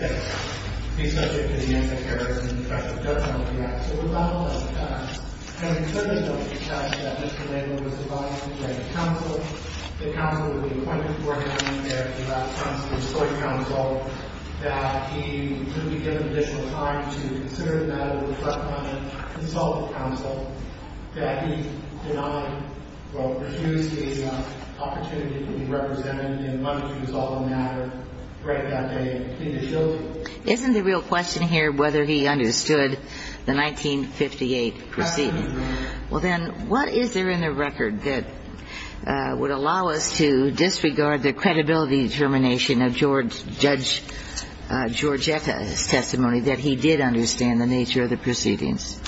I would like to be subject to the anti-terrorism and the threat of judgment at the actual level, and I'm concerned I don't attach to that. Mr. Laidlaw was advised to join the council. The council would be appointed for him, and there was a promise to the historic council that he would be given additional time to consider the matter, reflect on it, consult the council, that he denied, well, refused the opportunity to be represented in one of his awful matters right that day. Isn't the real question here whether he understood the 1958 proceeding? Well, then, what is there in the record that would allow us to disregard the credibility determination of Judge Giorgetta's testimony that he did understand the nature of the proceedings?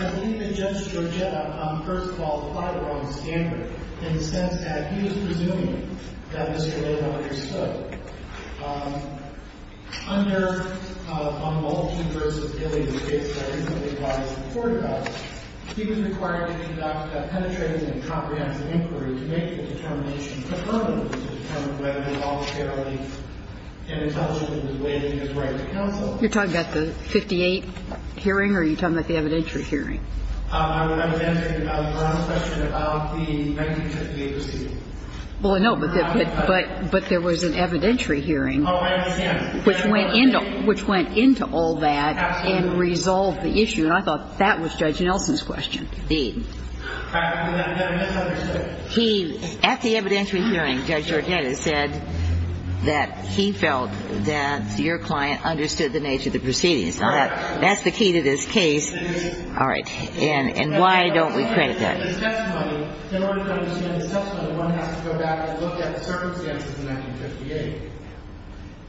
I believe that Judge Giorgetta, first of all, applied the wrong standard in the sense that he was presuming that Mr. Laidlaw understood. Under a multiverse of illegal states that I recently advised the court about, he was required to conduct a penetrating and comprehensive inquiry to make a determination, a permanent determination, to determine whether he at all shared any intelligence in waiving his right to counsel. You're talking about the 58th hearing, or are you talking about the evidentiary hearing? I was answering Your Honor's question about the 1958 proceeding. Well, no, but there was an evidentiary hearing which went into all that and resolved the issue. And I thought that was Judge Nelson's question. He, at the evidentiary hearing, Judge Giorgetta said that he felt that your client understood the nature of the proceedings. Now, that's the key to this case. All right. And why don't we credit that? Well, in order to understand his testimony, one has to go back and look at the circumstances in 1958.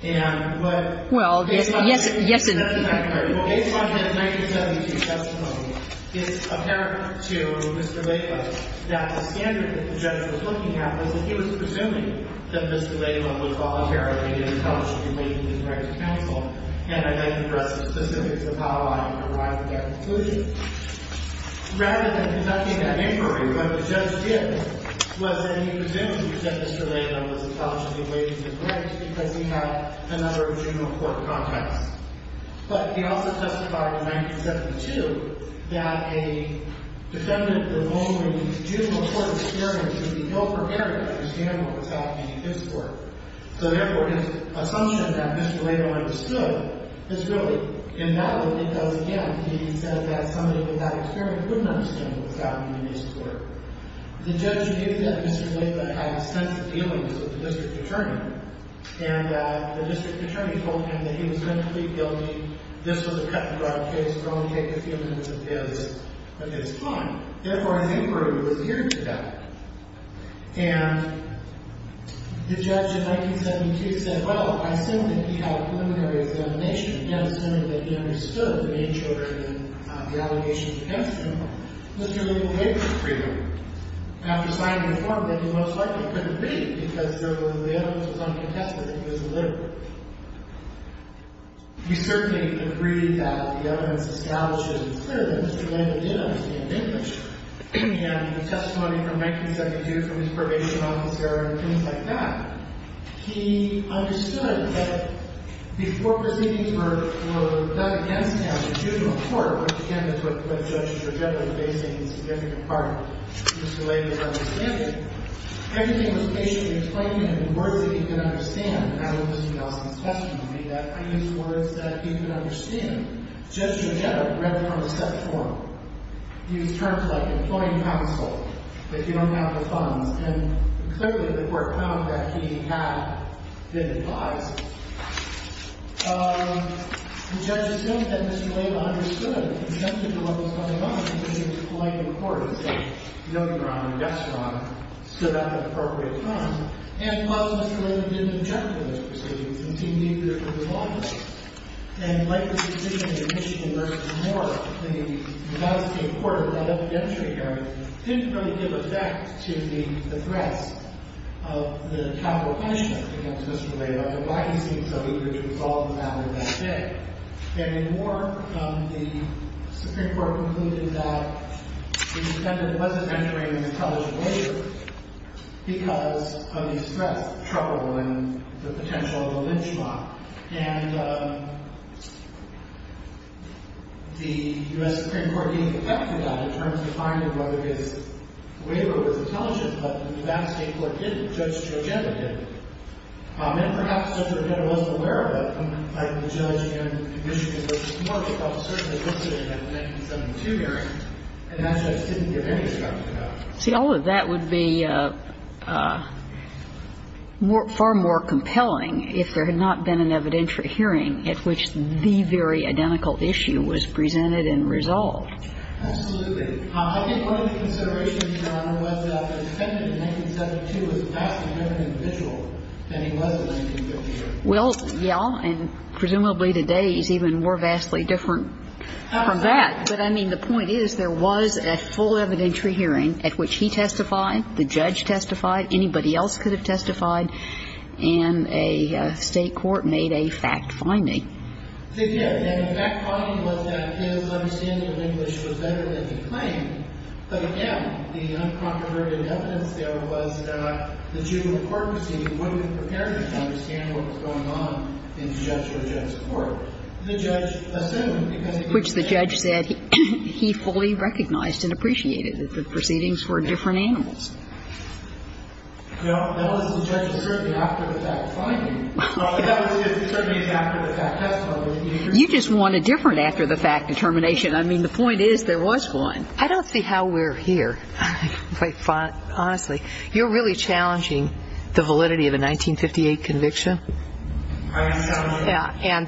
And what Baselon said in 1972 testimony is apparent to Mr. Laidlaw that the standard that the judge was looking at was that he was presuming that Mr. Laidlaw was voluntarily intelligent in waiving his right to counsel. And I thank you for the specifics of how I arrived at that conclusion. Rather than conducting an inquiry, what the judge did was that he presumed that Mr. Laidlaw was voluntarily waiving his rights because he had another juvenile court contest. But he also testified in 1972 that a defendant of only the juvenile court experience should be ill-prepared to understand what was happening in his court. So therefore, his assumption that Mr. Laidlaw understood his ruling. And that was because, again, he said that somebody with that experience couldn't understand what was happening in his court. The judge knew that Mr. Laidlaw had a sense of feelings with the district attorney. And the district attorney told him that he was mentally ill. This was a cut-and-dry case. It would only take a few minutes of his time. Therefore, his inquiry was geared to that. And the judge in 1972 said, well, I assume that he had a preliminary examination. Again, assuming that he understood the nature of the allegation against him. Mr. Laidlaw waived his freedom after signing a form that he most likely couldn't read because the evidence was uncontested. It was illiterate. He certainly agreed that the evidence established and clear that Mr. Laidlaw did understand English. And the testimony from 1972 from his probation officer and things like that, he understood that before proceedings were done against him, the judicial court, which, again, is what Judge Giugietto is basing his significant part of Mr. Laidlaw's understanding, everything was patiently explained in words that he could understand. And that was Mr. Nelson's testimony, that I used words that he could understand. Judge Giugietto read them on a set form. He used terms like employing counsel, that you don't have the funds. And clearly, the court found that he had been advised. The judge assumed that Mr. Laidlaw understood and understood what was going on because he was employing the court instead of knowing around the restaurant so that the appropriate time. And, of course, Mr. Laidlaw didn't object to those proceedings because he knew that it was logical. And like the decision of the initial versus more, I mean, that was the important part of the entry here, didn't really give effect to the threats of the capital punishment against Mr. Laidlaw, but why he seemed so eager to resolve the matter that day. And in more, the Supreme Court concluded that the defendant wasn't entering the college later because of the stress, trouble, and the potential of a lynch mob. And the U.S. Supreme Court didn't object to that in terms of finding whether his waiver was intelligent, but the vast majority of the court didn't. Judge Chogetta didn't. And perhaps the Supreme Court wasn't aware of it. Like the judge in Michigan versus Newark, which I was certainly visiting in 1972 hearing, and that judge didn't give any instruction about it. See, all of that would be far more compelling if there had not been an evidentiary hearing at which the very identical issue was presented and resolved. Absolutely. I think one of the considerations, Your Honor, was that the defendant in 1972 was a vastly different individual than he was in 1952. Well, yeah. And presumably today he's even more vastly different from that. But, I mean, the point is there was a full evidentiary hearing at which he testified, the judge testified, anybody else could have testified, and a State court made a fact finding. And the fact finding was that his understanding of English was better than the claim. But, again, the unconfirmed evidence there was that the juvenile court proceeding wouldn't have prepared him to understand what was going on in Judge Chogetta's which the judge said he fully recognized and appreciated, that the proceedings were different animals. No, that was the judge's scrutiny after the fact finding. No, that was his scrutiny after the fact testimony. You just want a different after-the-fact determination. I mean, the point is there was one. I don't see how we're here, quite honestly. You're really challenging the validity of a 1958 conviction. I am. And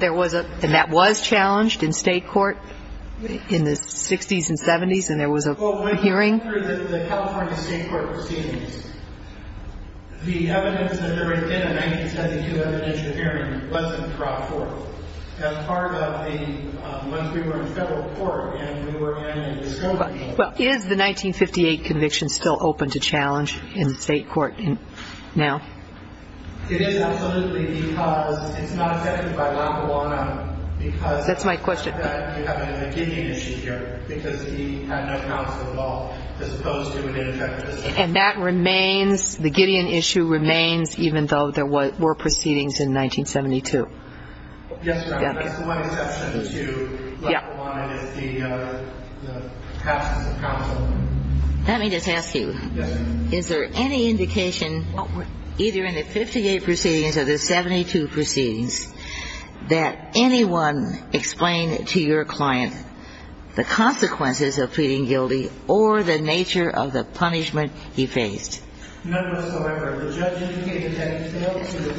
that was challenged in State court in the 60s and 70s, and there was a hearing. Well, when you look through the California State court proceedings, the evidence that there had been a 1972 evidentiary hearing wasn't brought forth. That's part of the, once we were in federal court and we were in a discovery court. Well, is the 1958 conviction still open to challenge in State court now? It is absolutely because it's not accepted by Lackawanna. That's my question. Because you have a Gideon issue here because he had no counsel at all as opposed to an independent. And that remains, the Gideon issue remains even though there were proceedings in 1972? Yes, Your Honor. That's the one exception to Lackawanna is the absence of counsel. Let me just ask you. Yes. Is there any indication, either in the 1958 proceedings or the 72 proceedings, that anyone explained to your client the consequences of pleading guilty or the nature of the punishment he faced? None whatsoever. The judge indicated that he failed to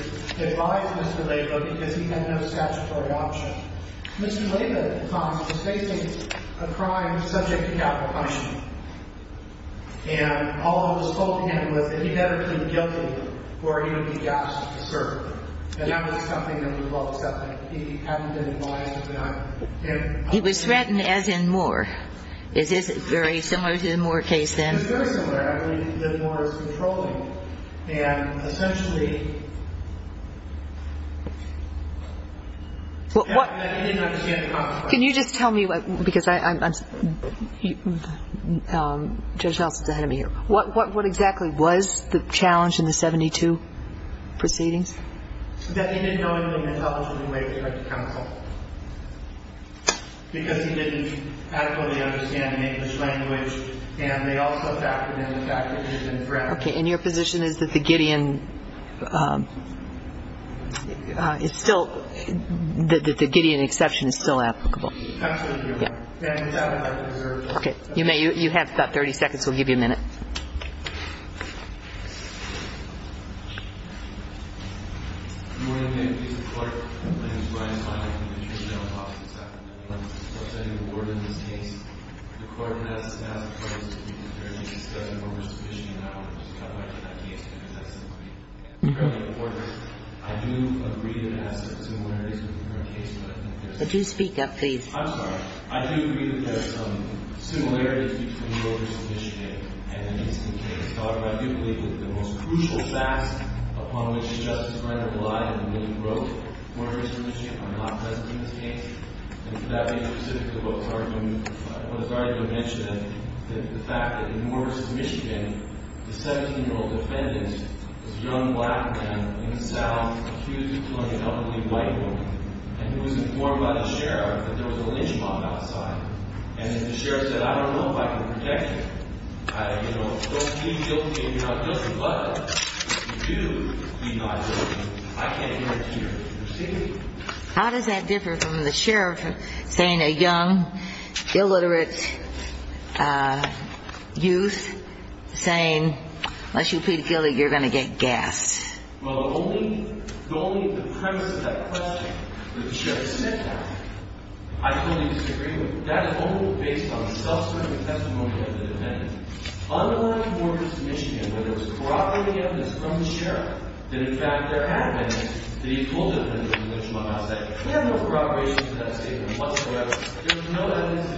advise Mr. Labo because he had no statutory option. Mr. Labo, at the time, was facing a crime subject to doubtful punishment. And all that was told to him was that he had to plead guilty or he would be judged to serve. And that was something that was well accepted. He hadn't been advised of it either. He was threatened as in Moore. Is this very similar to the Moore case then? It's very similar. I believe that Moore is controlling him. And essentially, he didn't understand the consequences. Can you just tell me, because Judge Nelson is ahead of me here, what exactly was the challenge in the 72 proceedings? That he didn't know any of the methods in the way he tried to counsel because he didn't adequately understand the English language, and they also factored in the fact that he had been threatened. Okay. And your position is that the Gideon is still the Gideon exception is still applicable? Absolutely. Okay. You have about 30 seconds. We'll give you a minute. Good morning, Madam Chief of Court. My name is Brian Stein. I'm from the Judicial Office. I'd like to start setting the order in this case. The Court has now proposed that we apparently discuss an over-submission in that one, which is kind of like an idea statement. That's simply apparently the order. I do agree that it has some similarities with the Moore case, but I think there's I'm sorry. I do agree that there are some similarities between the over-submission case and the Gideon case. However, I do believe that the most crucial facts upon which Justice Brenner relied on when he wrote Moore v. Michigan are not present in this case. And for that reason, specifically, what I'm sorry to mention is the fact that in Moore v. Michigan, the 17-year-old defendant was a young black man in the South accused of killing an elderly white woman, and he was informed by the sheriff that there was a lynch mob outside. And the sheriff said, I don't know if I can protect you. You know, don't be guilty if you're not guilty. But if you do be not guilty, I can't guarantee you're safe. How does that differ from the sheriff saying a young, illiterate youth saying unless you plead guilty, you're going to get gassed? Well, the only premise of that question that the sheriff said that, I totally disagree with. That is only based on self-certain testimony of the defendant. Underlying Moore v. Michigan, where there was corroborating evidence from the sheriff that, in fact, there had been lynch mob outside, there was no corroboration to that statement whatsoever. There was no evidence to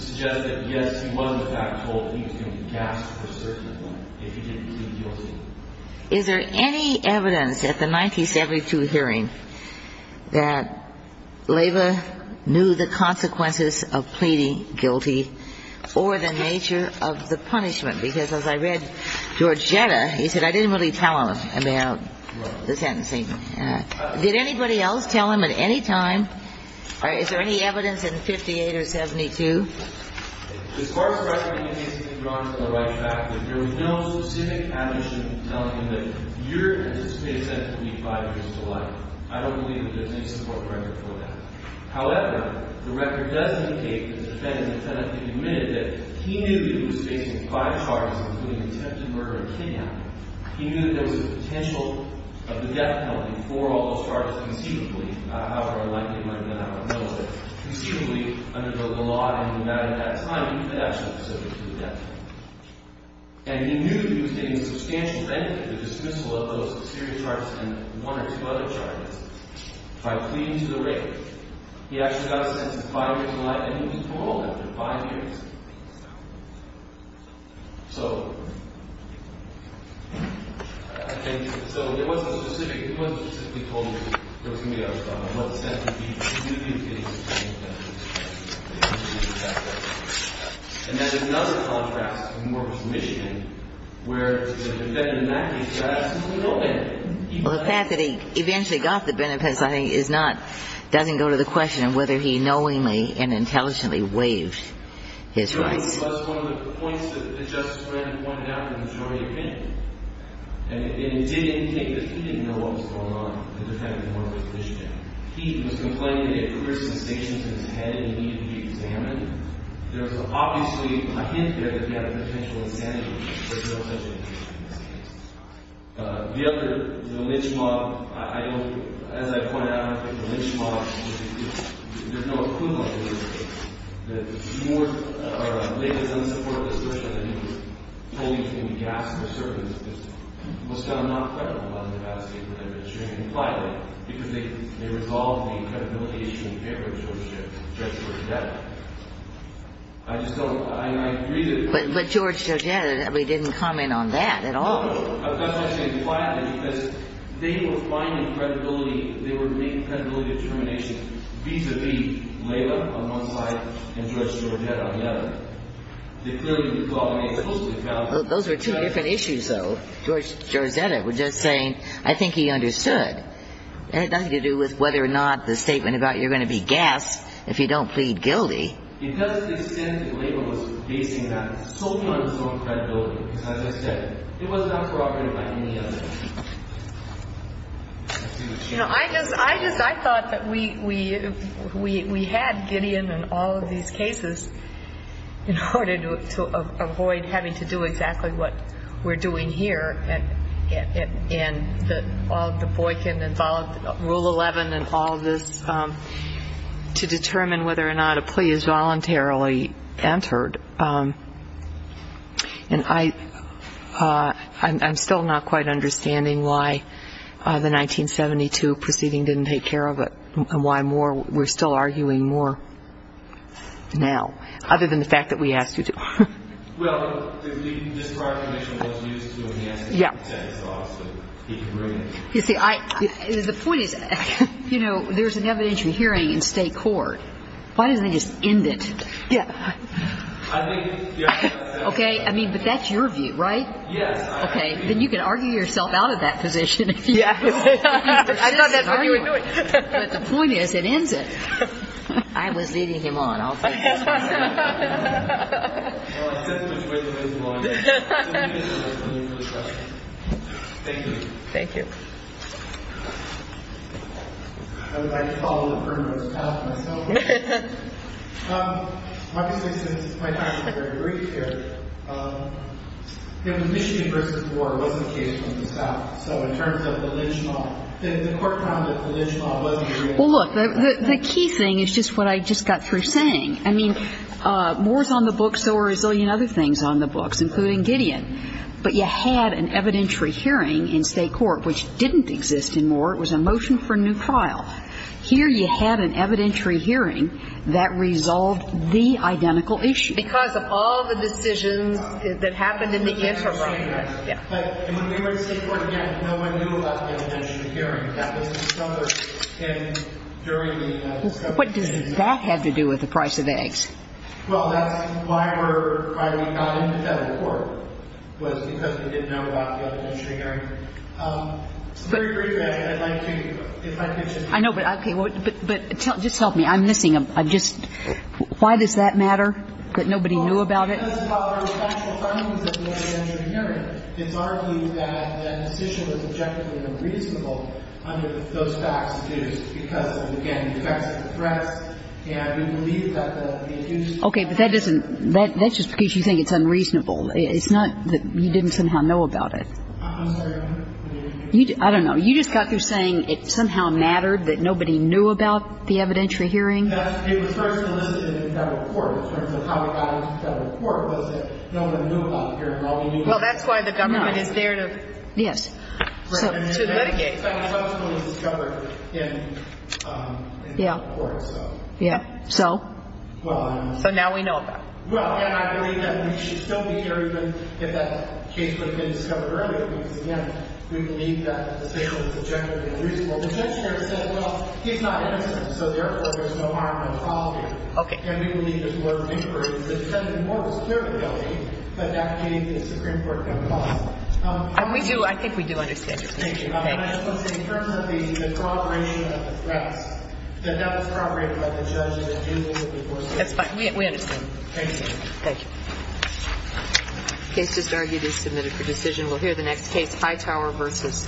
suggest that, yes, he was, in fact, told he was going to be gassed for certain if he didn't plead guilty. Is there any evidence at the 1972 hearing that Leyva knew the consequences of pleading guilty or the nature of the punishment? Because as I read Georgetta, he said, I didn't really tell him about the sentencing. Did anybody else tell him at any time? Is there any evidence in 58 or 72? As far as the record indicates, we've gone to the right fact that there was no specific admission telling him that you're anticipated sentence will be five years to life. I don't believe that there's any support record for that. However, the record does indicate that the defendant admitted that he knew he was facing five charges, including attempted murder and kidnapping. He knew that there was a potential of the death penalty for all those charges conceivably, however unlikely it might have been out of nowhere. Conceivably, under the law in Nevada at that time, he was actually subject to the death penalty. And he knew he was taking a substantial benefit of the dismissal of those exterior charges and one or two other charges by pleading to the rape. He actually got a sentence of five years to life and he was told after five years. So, I think, so there wasn't a specific, he wasn't specifically told that there was going to be a sentence. He knew he was getting a sentence. And that's another contrast to Morpheus, Michigan, where the defendant in that case got absolutely no benefit. Well, the fact that he eventually got the benefit, I think, is not, doesn't go to the question of whether he knowingly and intelligently waived his rights. That's one of the points that Justice Brennan pointed out in the majority opinion. And it did indicate that he didn't know what was going on, the defendant in Morpheus, Michigan. He was complaining that he had career sensations in his head and he needed to be examined. There's obviously a hint there that he had a potential insanity, but there's no such indication in this case. The other, the lich law, I don't, as I pointed out, I think the lich law, there's no equivalent to this. The more, or maybe it's unsupportable discussion that he was told he was going to be gassed or serviced, but it was found not credible by the Nevada State District Attorney. It was found by Judge Giorgetta and Judge Schenk quietly, because they resolved the incredible issue in favor of Judge Giorgetta. I just don't, I agree that... But George Giorgetta didn't comment on that at all. No, no. I was asking quietly because they were finding credibility, they were making credibility determinations vis-à-vis Leyla on one side and Judge Giorgetta on the other. They clearly were... Those were two different issues though. George Giorgetta was just saying, I think he understood. It had nothing to do with whether or not the statement about you're going to be gassed if you don't plead guilty. You know, I just, I just, I thought that we, we, we, we had Gideon in all of these cases in order to, to avoid having to do exactly what we're doing here and, and, and the, all of the Boykin involved, Rule 11 and all of this to determine whether or not a plea is voluntarily entered. And I, I'm still not quite understanding why the 1972 proceeding didn't take care of it and why more, we're still arguing more now, other than the fact that we asked you to. Well, the disproclamation was used to when he asked me to present his thoughts and he agreed. You see, I, the point is, you know, there's an evidentiary hearing in state court. Why doesn't he just end it? Yeah. I think, yeah. Okay. I mean, but that's your view, right? Yes. Okay. Then you can argue yourself out of that position. Yeah. I thought that's what you were doing. But the point is, it ends it. I was leading him on. I'll take this one. Thank you. Thank you. Well, look, the key thing is just what I just got through saying. I mean, Moore's on the book, so are a zillion other things on the books, including Gideon. But you had an evidentiary hearing in state court, which didn't exist in Moore. It was a motion-free hearing. Here you had an evidentiary hearing that resolved the identical issue. Because of all the decisions that happened in the interim. And when we were in state court again, no one knew about the evidentiary hearing. That was discovered during the discovery. What does that have to do with the price of eggs? Well, that's why we finally got into federal court, was because we didn't know about the evidentiary hearing. It's a very brief record. I'd like to, if I could just... I know, but, okay. But just help me. I'm missing a... I'm just... Why does that matter, that nobody knew about it? Well, because while there were factual findings of the evidentiary hearing, it's argued that the decision was objectively unreasonable under those facts, because, again, the effects of the threats. And we believe that the accused... Okay, but that doesn't... That's just because you think it's unreasonable. It's not that you didn't somehow know about it. I'm sorry. I didn't hear you. I don't know. You just got through saying it somehow mattered that nobody knew about the evidentiary hearing? It was first elicited in federal court, in terms of how it got into federal court, was that no one knew about the hearing. Well, that's why the government is there to... Yes. ...to litigate. It was actually discovered in federal court, so... Yeah. So? Well, I'm... So now we know about it. Well, and I believe that we should still be here even if that case would have been discovered earlier, because, again, we believe that the decision was objectively unreasonable. The judge here said, well, he's not innocent, so therefore there's no harm in following it. Okay. And we believe that the court of inquiry is more of a security building, but that gave the Supreme Court no cause. We do. I think we do understand. Thank you. I just want to say, in terms of the corroboration of the threats, that that was corroborated by the judge that is looking for... That's fine. We understand. Thank you. Thank you. The case just argued is submitted for decision. We'll hear the next case, Hightower v. Filer.